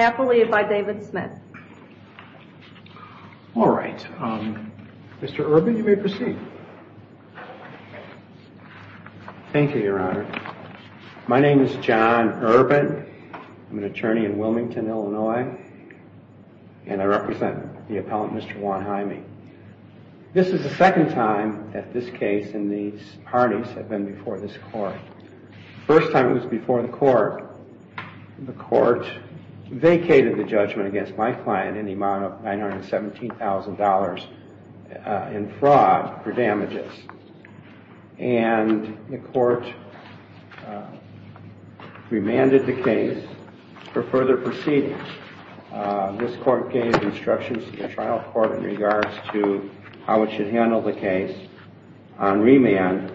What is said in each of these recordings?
appellate by David Smith. All right, Mr. Urban, you may proceed. Thank you, Your Honor. My name is John Urban. I'm an attorney in Wilmington, Illinois, and I represent the appellant, Mr. Ron Hyming. This is the second time that this case and these parties have been before this court. The first time it was before the court, the court vacated the judgment against my client in the amount of $917,000 in fraud for damages. And the court remanded the case for further proceedings. This court gave instructions to the trial court in regards to how it should handle the case on remand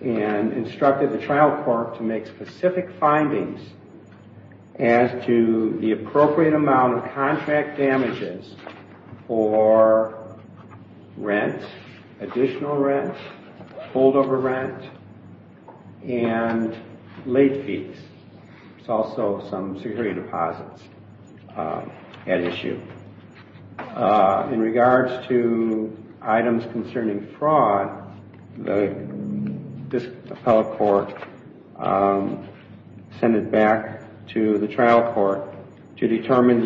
and instructed the trial court to make specific findings as to the appropriate deposits at issue. In regards to items concerning fraud, this appellate court sent it back to the trial court to determine,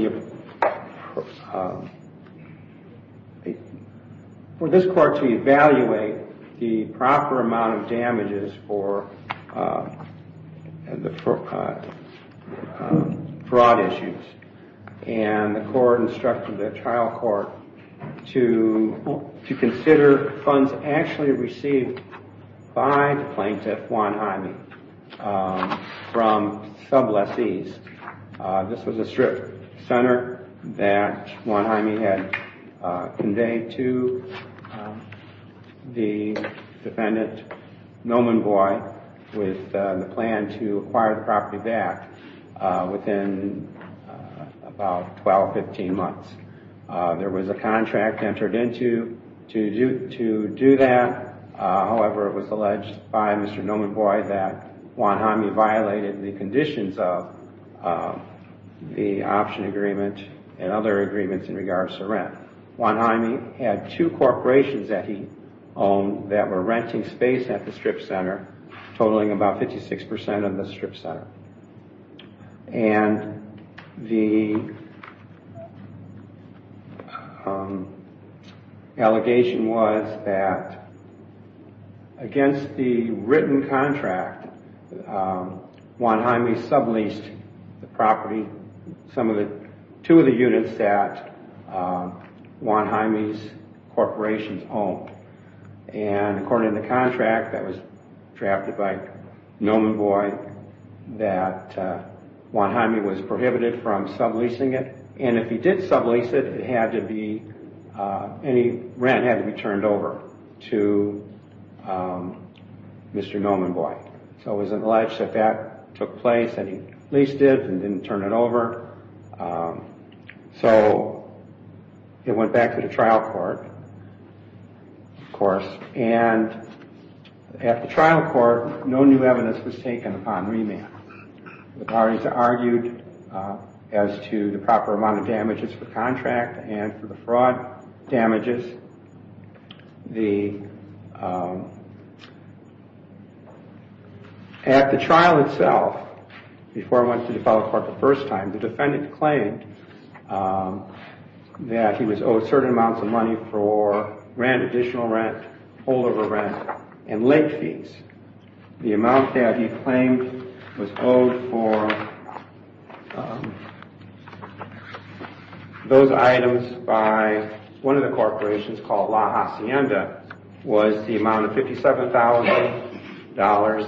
for this court to evaluate the proper amount of damages for fraud issues. And the court instructed the trial court to consider funds actually received by the plaintiff, Ron Hyming, from sub lessees. This was a strip center that Ron Hyming had conveyed to the defendant, Noman Boyd, with the plan to acquire the property back within about 12, 15 months. There was a contract entered into to do that. However, it was alleged by Mr. Noman Boyd that Ron Hyming violated the conditions of the option agreement and other agreements in regards to rent. Ron Hyming had two corporations that he owned that were renting space at the strip center. And the allegation was that against the written contract, Ron Hyming subleased the property, two of the units that Ron Hyming's corporations owned. And according to the contract that was drafted by Noman Boyd, that Ron Hyming was prohibited from subleasing it. And if he did sublease it, any rent had to be turned over to Mr. Noman Boyd. So it was alleged that that took place and he leased it and didn't turn it over. So it went back to the trial court, of course. And at the trial court, no new evidence was taken upon remand. The parties argued as to the proper amount of damages for the contract and for the trial itself, before it went to the trial court the first time, the defendant claimed that he was owed certain amounts of money for rent, additional rent, holdover rent, and late fees. The amount that he claimed was owed for those items by one of the corporations called La Hacienda was the amount of $57,000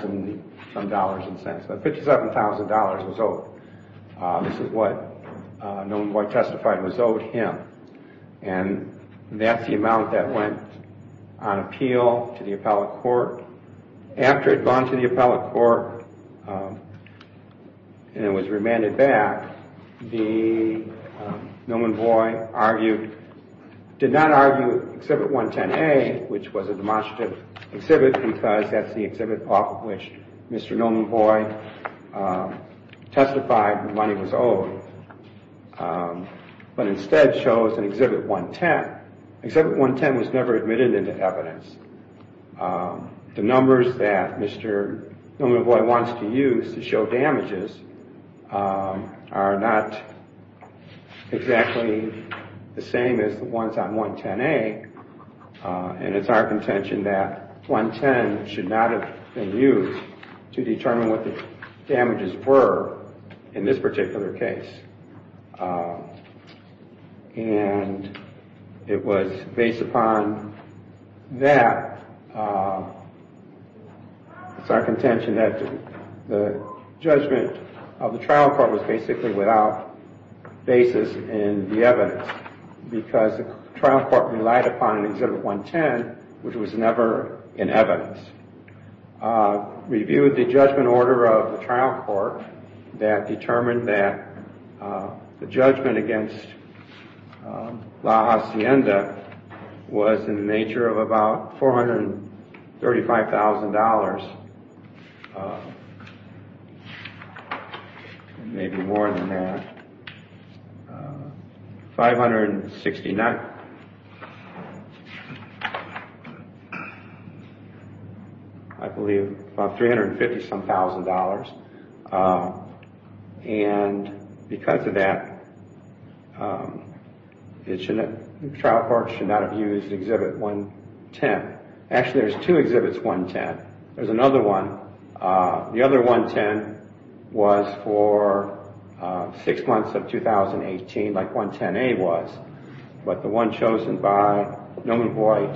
and some dollars and cents. But $57,000 was owed. This is what Noman Boyd testified was owed him. And that's the amount that went on appeal to the appellate court. After it had gone to the appellate court and was remanded back, Noman Boyd did not argue Exhibit 110A, which was a demonstrative exhibit because that's the exhibit off of which Mr. Noman Boyd testified the money was owed, but instead chose an Exhibit 110. Exhibit 110 was never admitted into evidence. The numbers that Mr. Noman Boyd wants to use to show the damages were the same as the ones on 110A, and it's our contention that 110 should not have been used to determine what the damages were in this particular case. And it was based upon that. It's our contention that the judgment of the trial court was basically without basis in the trial court relied upon an Exhibit 110, which was never in evidence. Reviewed the judgment order of the trial court that determined that the judgment against La Hacienda was in the nature of about $435,000, maybe more than that, $569,000, I believe about $350,000. And because of that, the trial court should not have used Exhibit 110. Actually, there's two Exhibits 110. There's another one. The other one was for three months in 2018. The Exhibit Mr. Noman Boyd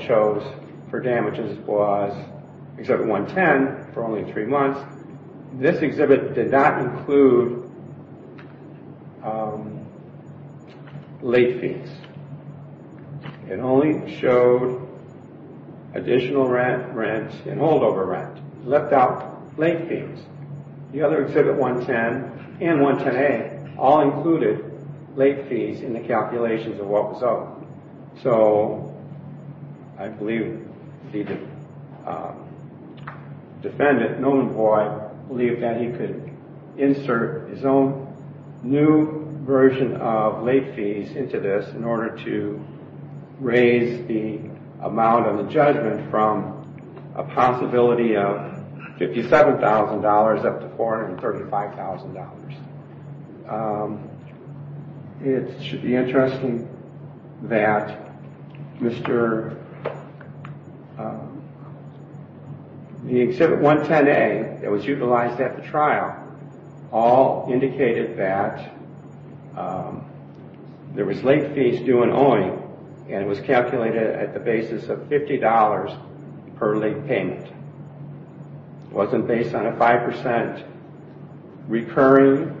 chose for damages was Exhibit 110 for only three months. This exhibit did not include late fees. It only showed additional rent and holdover rent. It left out late fees. The other Exhibit 110 and 110A all included late fees in the calculations of what was owed. So I believe the defendant, Noman Boyd, believed that he could insert his own new version of late fees into this in order to raise the amount of the judgment from a possibility of $57,000 up to $435,000. It should be interesting that the Exhibit 110A that was utilized at the trial all indicated that there was late fees due and owing, and it was calculated at the basis of $50 per late payment. It wasn't based on a 5% recurring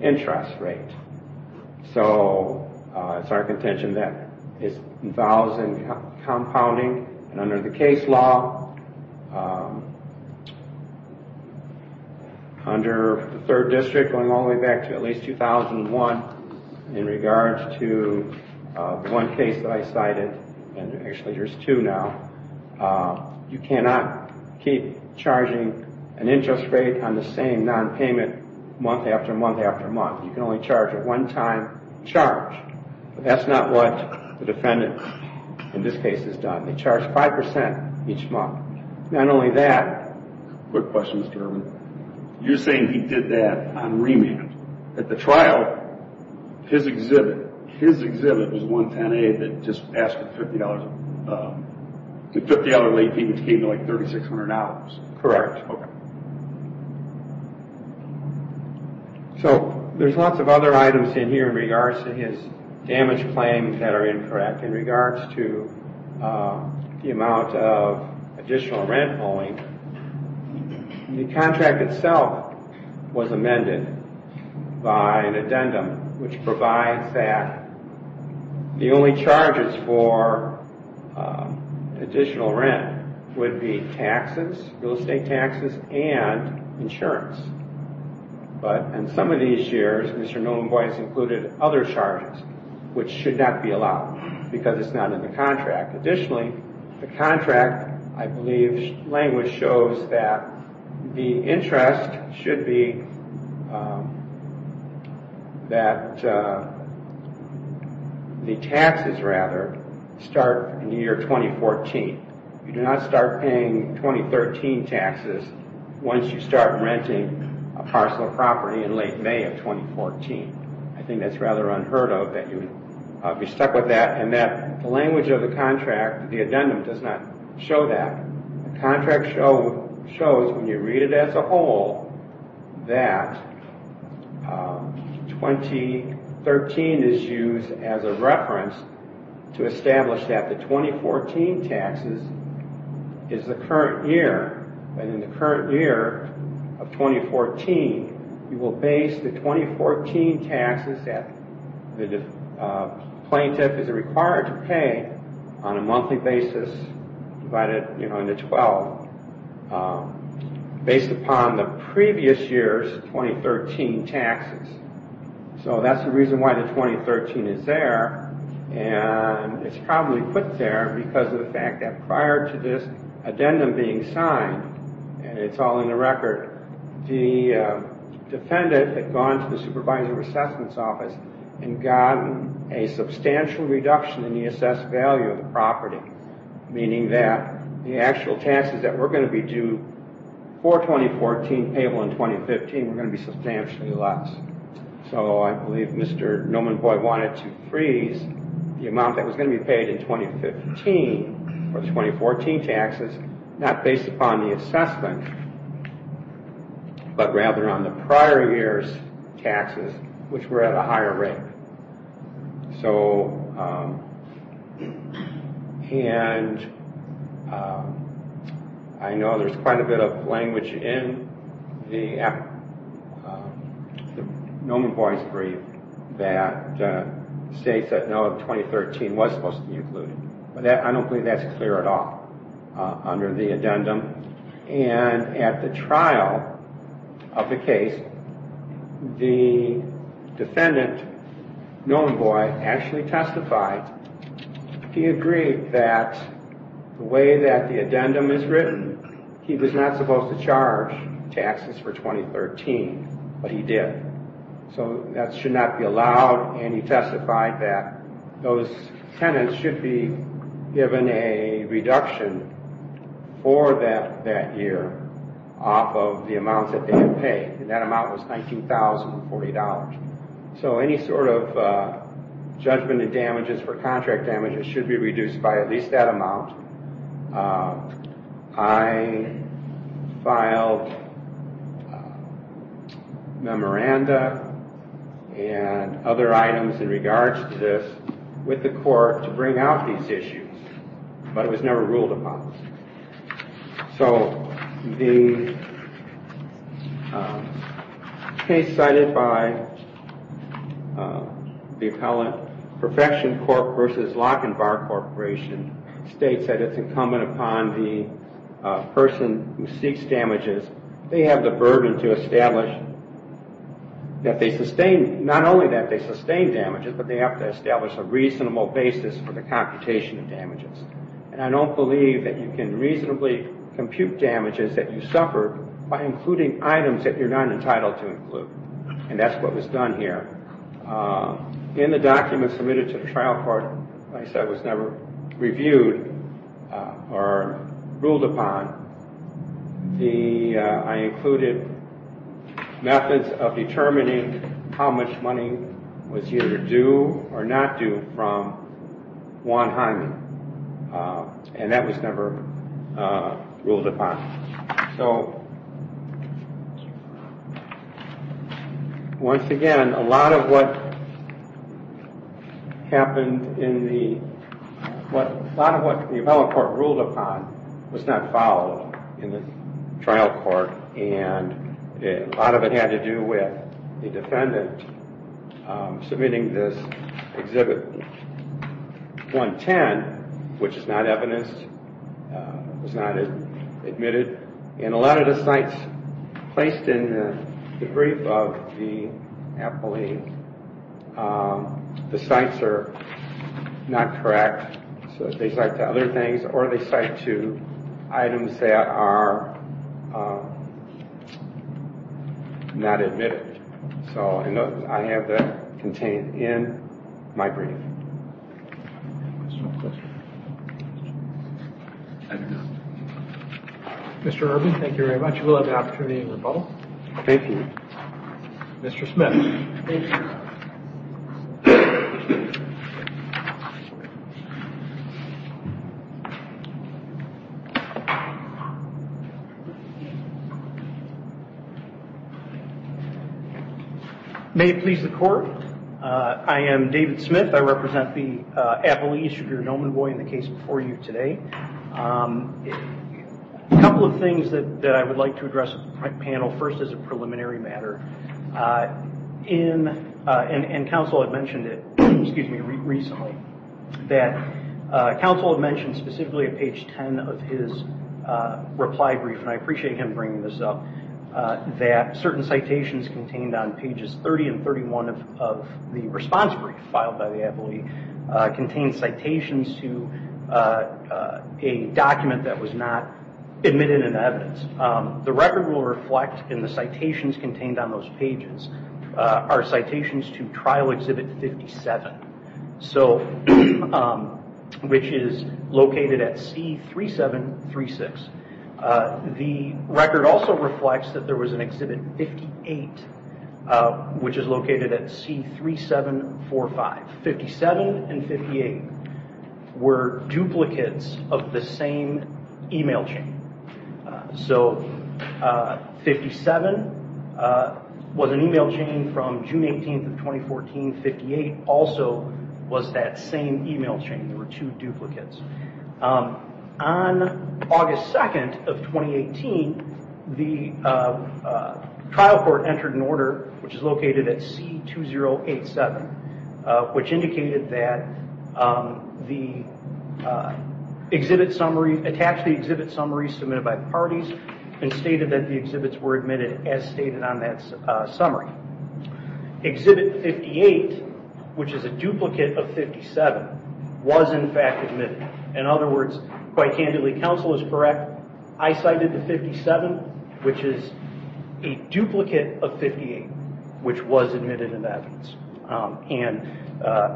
interest rate. It's our contention that it involves compounding. Under the case law, under the 3rd District going all the way back to at least 2001, in regards to one case that I cited, and actually there's two now, you cannot keep charging an interest rate on the same non-payment month after month after month. You can only charge at one time, charge. That's not what the defendant in this case has done. They charge 5% each month. Not only that... Quick question, Mr. Irwin. You're saying he did that on remand. At the trial, his Exhibit, his Exhibit was 110A that just asked for $50. The $50 late payment came to like $3,600. Correct. So there's lots of other items in here in regards to his damage claims that are incorrect. In regards to the amount of additional rent owing, the contract itself was amended by an addendum which provides that the only charges for additional rent would be taxes, real estate taxes. And insurance. But in some of these years, Mr. Nolenboy has included other charges which should not be allowed because it's not in the contract. Additionally, the contract, I believe language shows that the interest should be that the taxes rather start in the year 2014. You do not start paying 2013 taxes once you start renting a parcel of property in late May of 2014. I think that's rather unheard of that you'd be stuck with that and that the language of the contract, the addendum does not show that. The contract shows when you read it as a whole that 2013 is used as a reference to establish that the 2014 taxes is the current year. And in the current year of 2014, you will base the 2014 taxes that the plaintiff is required to pay on a monthly basis, divided into 12, based upon the previous year's 2013 taxes. So that's the reason why the 2013 is there. And it's probably put there because of the fact that prior to this addendum being signed, and it's all in the record, the defendant had gone to the Supervisor of Assessments Office and gotten a substantial reduction in the assessed value of the property. Meaning that the actual taxes that were going to be due for 2014 payable in 2015 were going to be substantially less. So I believe Mr. Nomenvoy wanted to freeze the amount that was going to be paid in 2015 for the 2014 taxes, not based upon the assessment, but rather on the prior year's taxes, which were at a higher rate. And I know there's quite a bit of language in the Nomenvoy's brief that states that no, 2013 was supposed to be included. I don't believe that's clear at all under the addendum. And at the trial of the case, the defendant, Nomenvoy, actually testified. He agreed that the way that the addendum is written, he was not supposed to charge taxes for 2013, but he did. So that should not be allowed. And he testified that those tenants should be given a reduction for that year off of the amount that they had paid. And that amount was $19,040. So any sort of judgment and damages for contract damages should be reduced by at least that amount. I filed memoranda and other items in regards to this with the court to bring out these issues, but it was never ruled upon. So the case cited by the appellant, Perfection Corp. v. Lock and Bar Corporation, states that it's incumbent upon the person who seeks damages, they have the burden to establish that they sustain, not only that they sustain damages, but they have to establish a reasonable basis for the computation of damages. And I don't believe that you can reasonably compute damages that you suffer by including items that you're not entitled to include. And that's what was done here. In the document submitted to the trial court, as I said, was never reviewed or ruled upon. I included methods of determining how much money was either due or not due from Juan Hyman. And that was never ruled upon. So once again, a lot of what the appellant court ruled upon was not followed in the trial court, and a lot of it had to do with the defendant submitting this Exhibit 110, which is not evidenced. It was not admitted. And a lot of the sites placed in the brief of the appellant, the sites are not correct. So they cite to other things, or they cite to items that are not admitted. So I have that contained in my brief. Mr. Irvin, thank you very much. You will have the opportunity to rebuttal. Thank you. Mr. Smith. Thank you. May it please the court. I am David Smith. I represent the appellee, Mr. Norman Boyd, in the case before you today. A couple of things that I would like to address with the panel. First, as a preliminary matter, and counsel had mentioned it recently, that counsel had mentioned specifically at page 10 of his reply brief, and I appreciate him bringing this up, that certain citations contained on pages 30 and 31 of the response brief filed by the appellee contain citations to a document that was not admitted in evidence. The record will reflect in the citations contained on those pages are citations to Trial Exhibit 57, which is located at C3736. The record also reflects that there was an Exhibit 58, which is located at C3745. Exhibits 57 and 58 were duplicates of the same email chain. So 57 was an email chain from June 18, 2014. 58 also was that same email chain. There were two duplicates. On August 2nd of 2018, the trial court entered an order, which is located at C2087, which indicated that the exhibit summary, attached the exhibit summary submitted by parties, and stated that the exhibits were admitted as stated on that summary. Exhibit 58, which is a duplicate of 57, was in fact admitted. In other words, quite candidly, counsel is correct. I cited the 57, which is a duplicate of 58, which was admitted into evidence.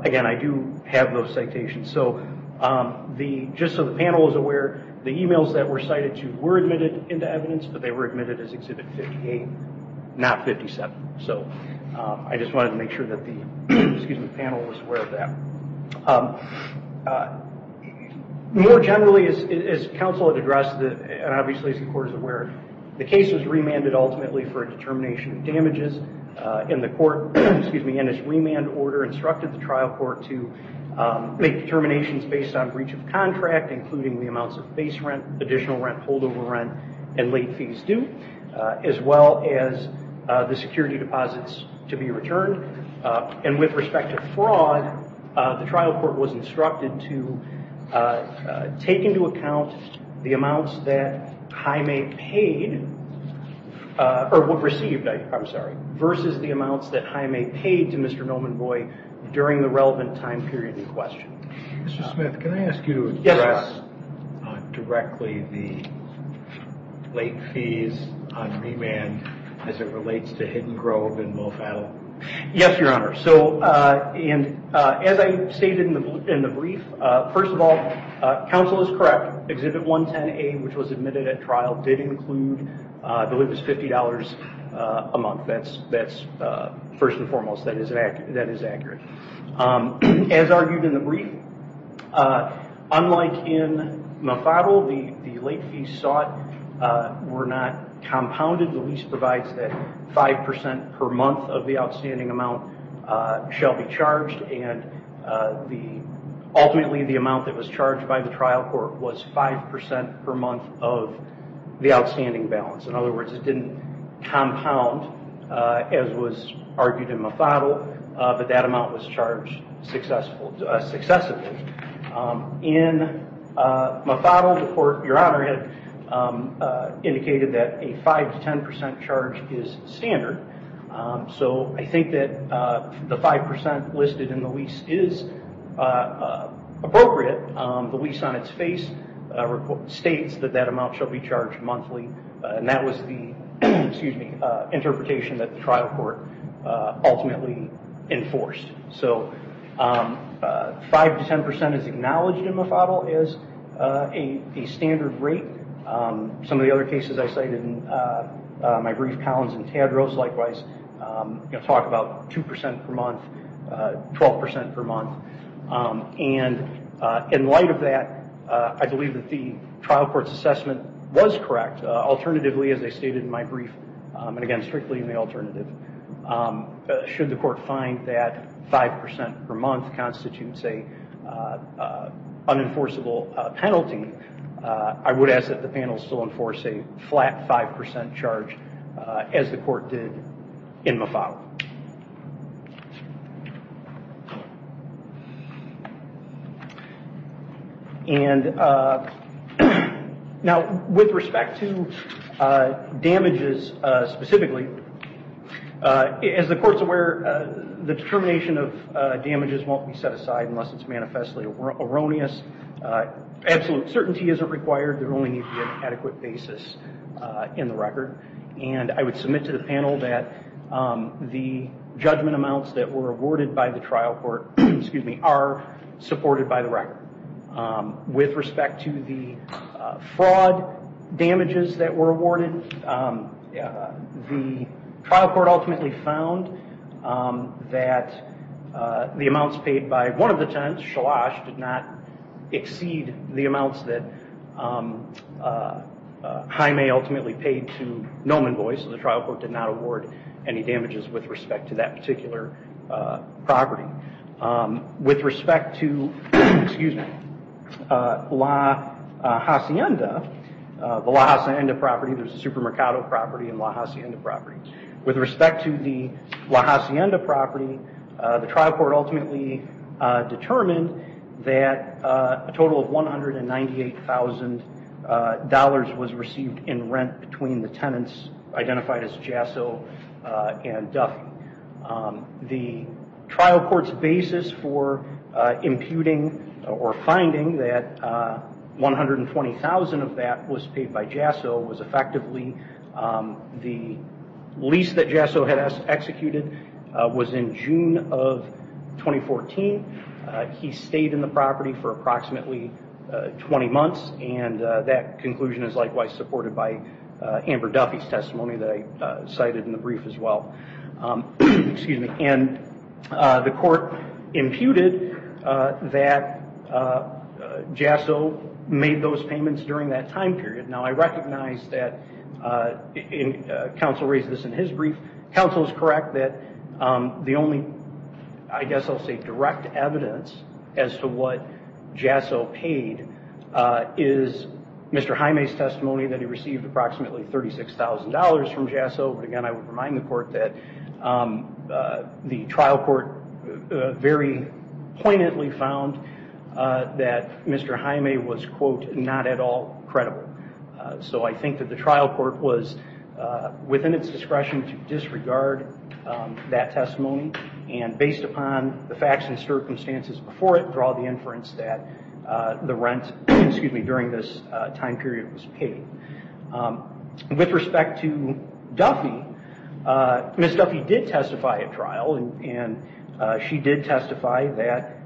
Again, I do have those citations. Just so the panel is aware, the emails that were cited to were admitted into evidence, but they were admitted as Exhibit 58, not 57. I just wanted to make sure that the panel was aware of that. More generally, as counsel had addressed, and obviously as the court is aware, the case was remanded ultimately for a determination of damages, and the court, in its remand order, instructed the trial court to make determinations based on breach of contract, including the amounts of base rent, additional rent, holdover rent, and late fees due, as well as the security deposits to be returned. With respect to fraud, the trial court was instructed to take into account the amounts that Jaime paid, or received, I'm sorry, versus the amounts that Jaime paid to Mr. Nomenboy during the relevant time period in question. Mr. Smith, can I ask you to address directly the late fees on remand as it relates to Hidden Grove and Mofattel? Yes, Your Honor. As I stated in the brief, first of all, counsel is correct. Exhibit 110A, which was admitted at trial, did include, I believe it was $50 a month. First and foremost, that is accurate. As argued in the brief, unlike in Mofattel, the late fees sought were not compounded. The lease provides that 5% per month of the outstanding amount shall be charged, and ultimately the amount that was charged by the trial court was 5% per month of the outstanding balance. In other words, it didn't compound, as was argued in Mofattel, but that amount was charged successfully. In Mofattel, the court, Your Honor, had indicated that a 5-10% charge is standard, so I think that the 5% listed in the lease is appropriate. The lease on its face states that that amount shall be charged monthly, and that was the interpretation that the trial court ultimately enforced. 5-10% is acknowledged in Mofattel as a standard rate. Some of the other cases I cited in my brief, Collins and Tadros, likewise, talk about 2% per month, 12% per month. In light of that, I believe that the trial court's assessment was correct. Alternatively, as I stated in my brief, and again, strictly in the alternative, should the court find that 5% per month constitutes an unenforceable penalty, I would ask that the panel still enforce a flat 5% charge as the court did in Mofattel. Now, with respect to damages specifically, as the court's aware, the determination of damages won't be set aside unless it's manifestly erroneous. Absolute certainty isn't required. There only needs to be an adequate basis in the record. I would submit to the panel that the judgment amounts that were awarded by the trial court are supported by the record. With respect to the fraud damages that were awarded, the trial court ultimately found that the amounts paid by one of the tenants, Shalash, did not exceed the amounts that Jaime ultimately paid to Noman Boyce, so the trial court did not award any damages with respect to that particular property. With respect to La Hacienda, the La Hacienda property, there's a Supermercado property and La Hacienda property. With respect to the La Hacienda property, the trial court ultimately determined that a total of $198,000 was received in rent between the tenants identified as Jasso and Duffy. The trial court's basis for imputing or finding that $120,000 of that was paid by Jasso was effectively the lease that Jasso had executed was in June of 2014. He stayed in the property for approximately 20 months and that conclusion is likewise supported by Amber Duffy's testimony that I cited in the brief as well. The court imputed that Jasso made those payments during that time period. Now, I recognize that counsel raised this in his brief. Counsel is correct that the only, I guess I'll say direct evidence as to what Jasso paid is Mr. Jaime's testimony that he received approximately $36,000 from Jasso. Again, I would remind the court that the trial court very poignantly found that Mr. Jaime was, quote, not at all credible. So I think that the trial court was within its discretion to disregard that testimony and based upon the facts and circumstances before it, draw the inference that the rent, excuse me, during this time period was paid. With respect to Duffy, Ms. Duffy did testify at trial and she did testify that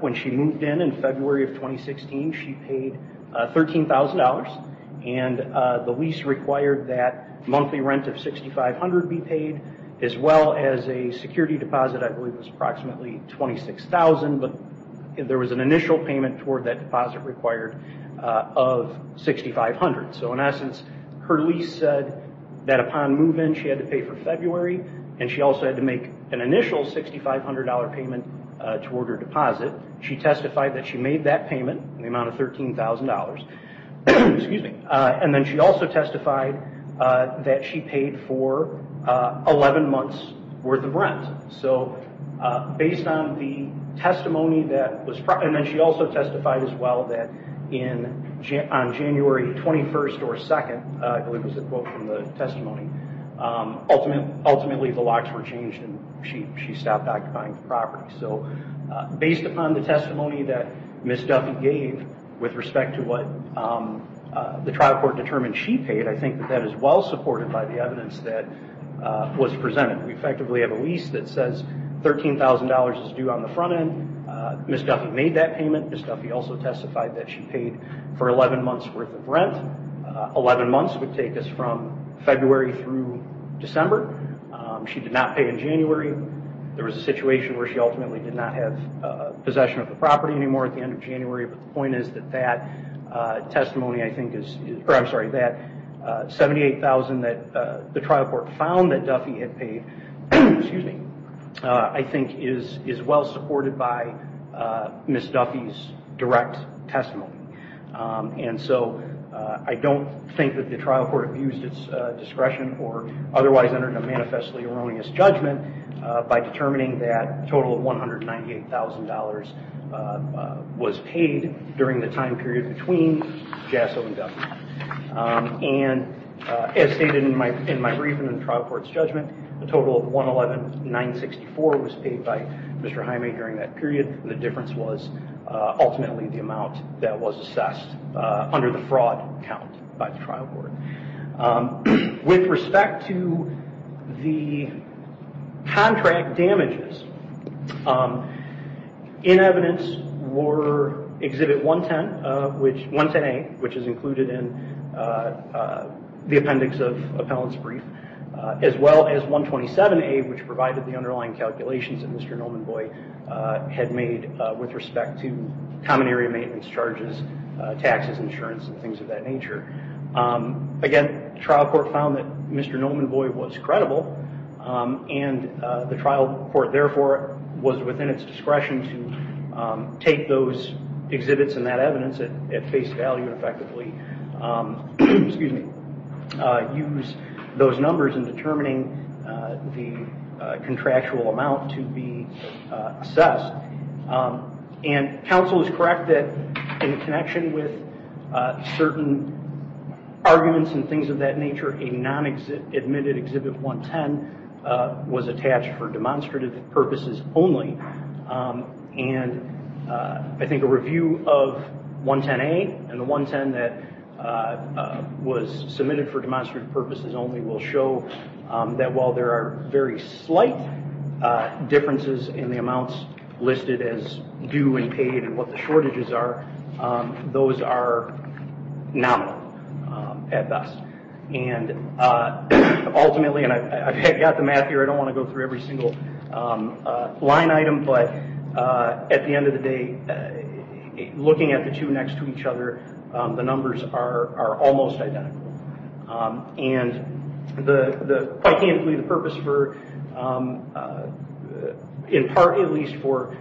when she moved in in February of 2016, she paid $13,000 and the lease required that monthly rent of $6,500 be paid as well as a security deposit, I believe it was approximately $26,000, but there was an initial payment toward that deposit required of $6,500. In essence, her lease said that upon move-in she had to pay for February and she also had to make an initial $6,500 payment toward her deposit. She testified that she made that payment in the amount of $13,000. Then she also testified that she paid for 11 months' worth of rent. So based on the testimony that was, and then she also testified as well that on January 21st or 2nd, I believe it was a quote from the testimony, ultimately the locks were changed and she stopped occupying the property. So based upon the testimony that Ms. Duffy gave with respect to what the trial court determined she paid, I think that that is well supported by the evidence that was presented. We effectively have a lease that says $13,000 is due on the front end. Ms. Duffy made that payment. Ms. Duffy also testified that she paid for 11 months' worth of rent. 11 months would take us from February through December. She did not pay in January. There was a situation where she ultimately did not have possession of the property anymore at the end of January. But the point is that that testimony, I'm sorry, that $78,000 that the trial court found that Duffy had paid, I think is well supported by Ms. Duffy's direct testimony. And so I don't think that the trial court abused its discretion or otherwise entered a manifestly erroneous judgment by determining that a total of $198,000 was paid during the time period between Jasso and Duffy. And as stated in my brief and in the trial court's judgment, a total of $111,964 was paid by Mr. Jaime during that period. The difference was ultimately the amount that was assessed under the fraud count by the trial court. With respect to the contract damages, in evidence were Exhibit 110A, which is included in the appendix of Appellant's brief, as well as 127A, which provided the underlying calculations that Mr. Nomenvoy had made with respect to common area maintenance charges, taxes, insurance, and things of that nature. Again, the trial court found that Mr. Nomenvoy was credible, and the trial court therefore was within its discretion to take those exhibits and that evidence at face value and effectively use those numbers in determining the contractual amount to be assessed. And counsel is correct that in connection with certain arguments and things of that nature, a non-admitted Exhibit 110 was attached for demonstrative purposes only. And I think a review of 110A and the 110 that was submitted for demonstrative purposes only will show that while there are very slight differences in the amounts listed as due and paid and what the shortages are, those are nominal at best. And ultimately, and I've got the math here, I don't want to go through every single line item, but at the end of the day, looking at the two next to each other, the numbers are almost identical. And quite candidly, the purpose for, in part at least, for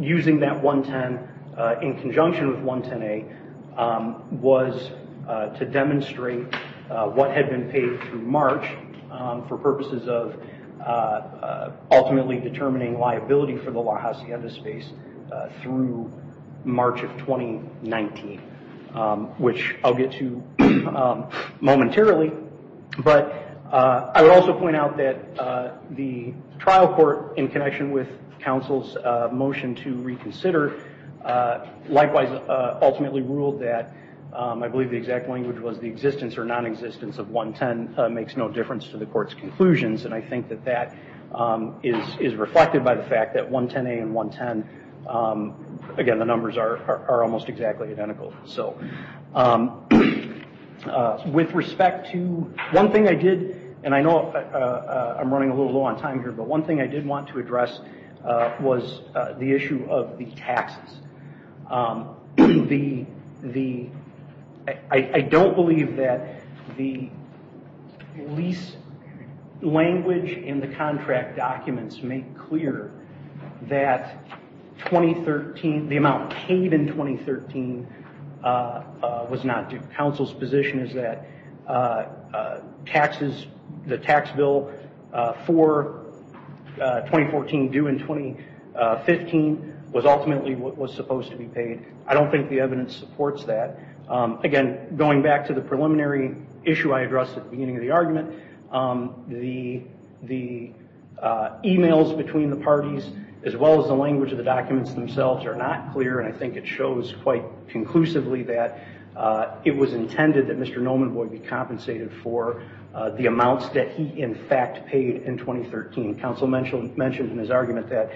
using that 110 in conjunction with 110A was to demonstrate what had been paid through March for purposes of ultimately determining liability for the La Hacienda space through March of 2019. Which I'll get to momentarily, but I would also point out that the trial court, in connection with counsel's motion to reconsider, likewise ultimately ruled that I believe the exact language was the existence or non-existence of 110 makes no difference to the court's conclusions. And I think that that is reflected by the fact that 110A and 110, again the numbers are almost exactly identical. With respect to, one thing I did, and I know I'm running a little low on time here, but one thing I did want to address was the issue of the taxes. I don't believe that the lease language in the contract documents make clear that the amount paid in 2013 was not due. Counsel's position is that the tax bill for 2014 due in 2015 was ultimately what was supposed to be paid. I don't think the evidence supports that. Again, going back to the preliminary issue I addressed at the beginning of the argument, the emails between the parties as well as the language of the documents themselves are not clear and I think it shows quite conclusively that it was intended that Mr. Nolman would be compensated for the amounts that he in fact paid in 2013. Counsel mentioned in his argument that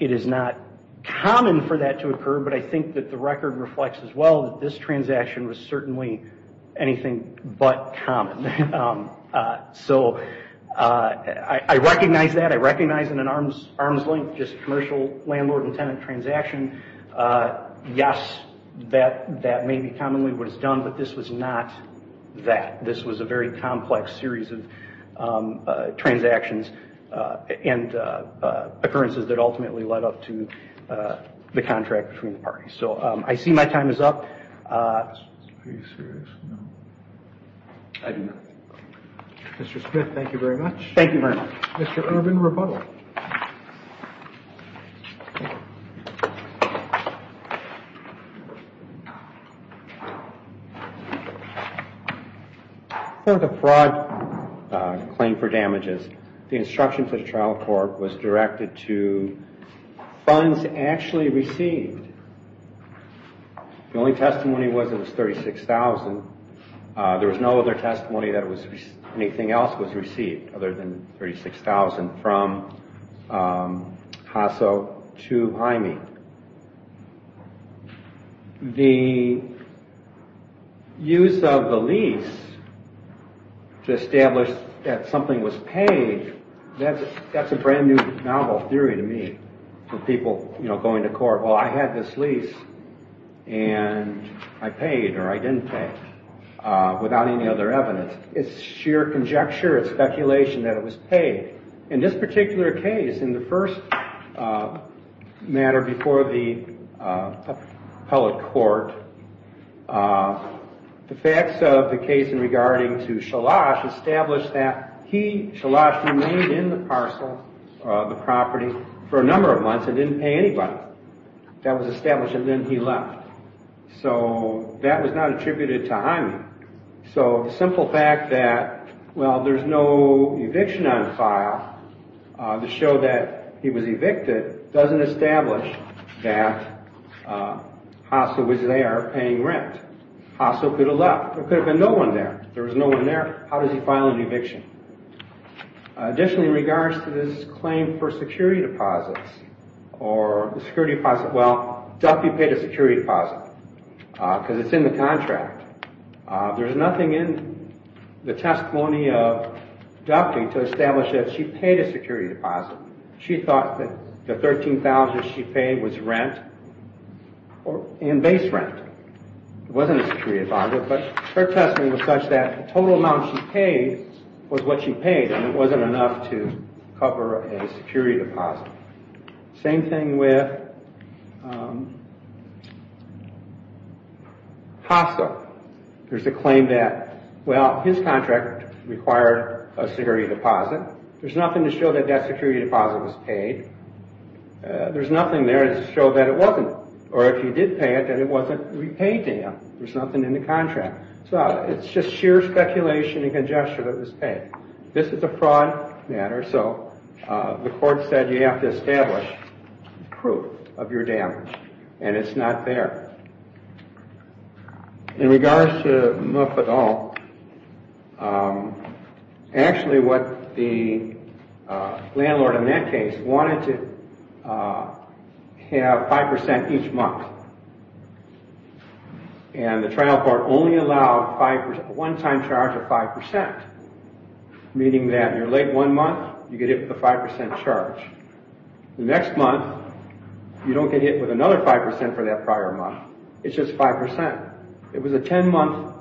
it is not common for that to occur, but I think that the record reflects as well that this transaction was certainly anything but common. I recognize that, I recognize in an arm's length commercial landlord and tenant transaction. Yes, that may be commonly what is done, but this was not that. This was a very complex series of transactions and occurrences that ultimately led up to the contract between the parties. I see my time is up. Are you serious? I do not. Mr. Smith, thank you very much. Thank you very much. Mr. Urban, rebuttal. For the fraud claim for damages, the instruction to the trial court was directed to funds actually received. The only testimony was that it was $36,000. There was no other testimony that anything else was received other than $36,000 from Hasso to Jaime. The use of the lease to establish that something was paid, that is a brand new novel theory to me. People going to court, well I had this lease and I paid or I did not pay without any other evidence. It is sheer conjecture, it is speculation that it was paid. In this particular case, in the first matter before the appellate court, the facts of the case in regarding to Shalash established that he, Shalash remained in the parcel of the property for a number of months and did not pay anybody. That was established and then he left. That was not attributed to Jaime. The simple fact that there is no eviction on file to show that he was evicted does not establish that Hasso was there paying rent. Hasso could have left. There could have been no one there. There was no one there. How does he file an eviction? Additionally, in regards to this claim for security deposits, Duffy paid a security deposit because it is in the contract. There is nothing in the testimony of Duffy to establish that she paid a security deposit. She thought that the $13,000 she paid was rent and base rent. It wasn't a security deposit, but her testimony was such that the total amount she paid was what she paid and it wasn't enough to cover a security deposit. Same thing with Hasso. There is a claim that his contract required a security deposit. There is nothing to show that that security deposit was paid. There is nothing there to show that it wasn't or if he did pay it, that it wasn't repaid to him. There is nothing in the contract. It is just sheer speculation and congestion that it was paid. This is a fraud matter, so the court said you have to establish proof of your damage and it is not there. In regards to Muffet Hall, the landlord in that case wanted to have 5% each month. The trial court only allowed a one-time charge of 5%, meaning that you are late one month, you get hit with a 5% charge. The next month, you don't get hit with another 5% for that prior month. It is just 5%. It was a 10-month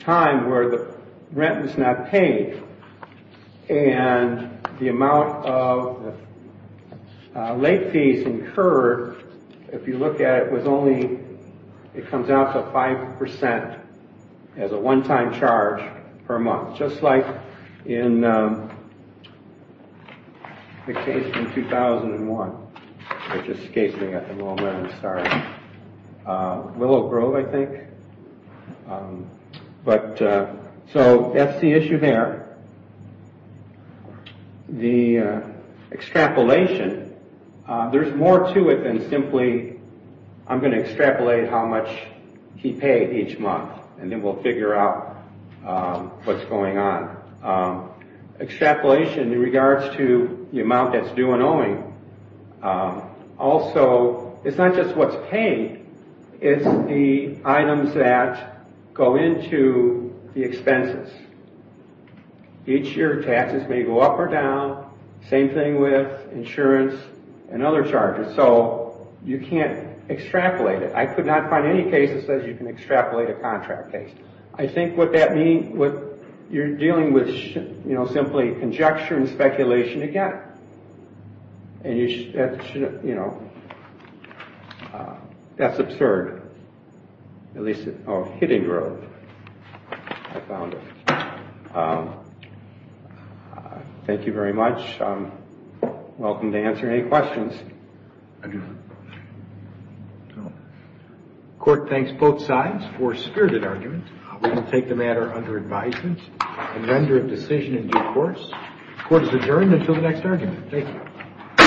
time where the rent was not paid and the amount of late fees incurred, if you look at it, it comes out to 5% as a one-time charge per month. Just like in the case in 2001. So that is the issue there. The extrapolation, there is more to it than simply I am going to extrapolate how much he paid each month and then we will figure out what is going on. Extrapolation in regards to the amount that is due and owing, it is not just what is paid, it is the items that go into the expenses. Each year taxes may go up or down, same thing with insurance and other charges. So you can't extrapolate it. I could not find any case that says you can extrapolate a contract case. I think what you are dealing with is simply conjecture and speculation again. That is absurd. Thank you very much. You are welcome to answer any questions. Court thanks both sides for a spirited argument. We will take the matter under advisement and render a decision in due course. Court is adjourned until the next argument. Thank you.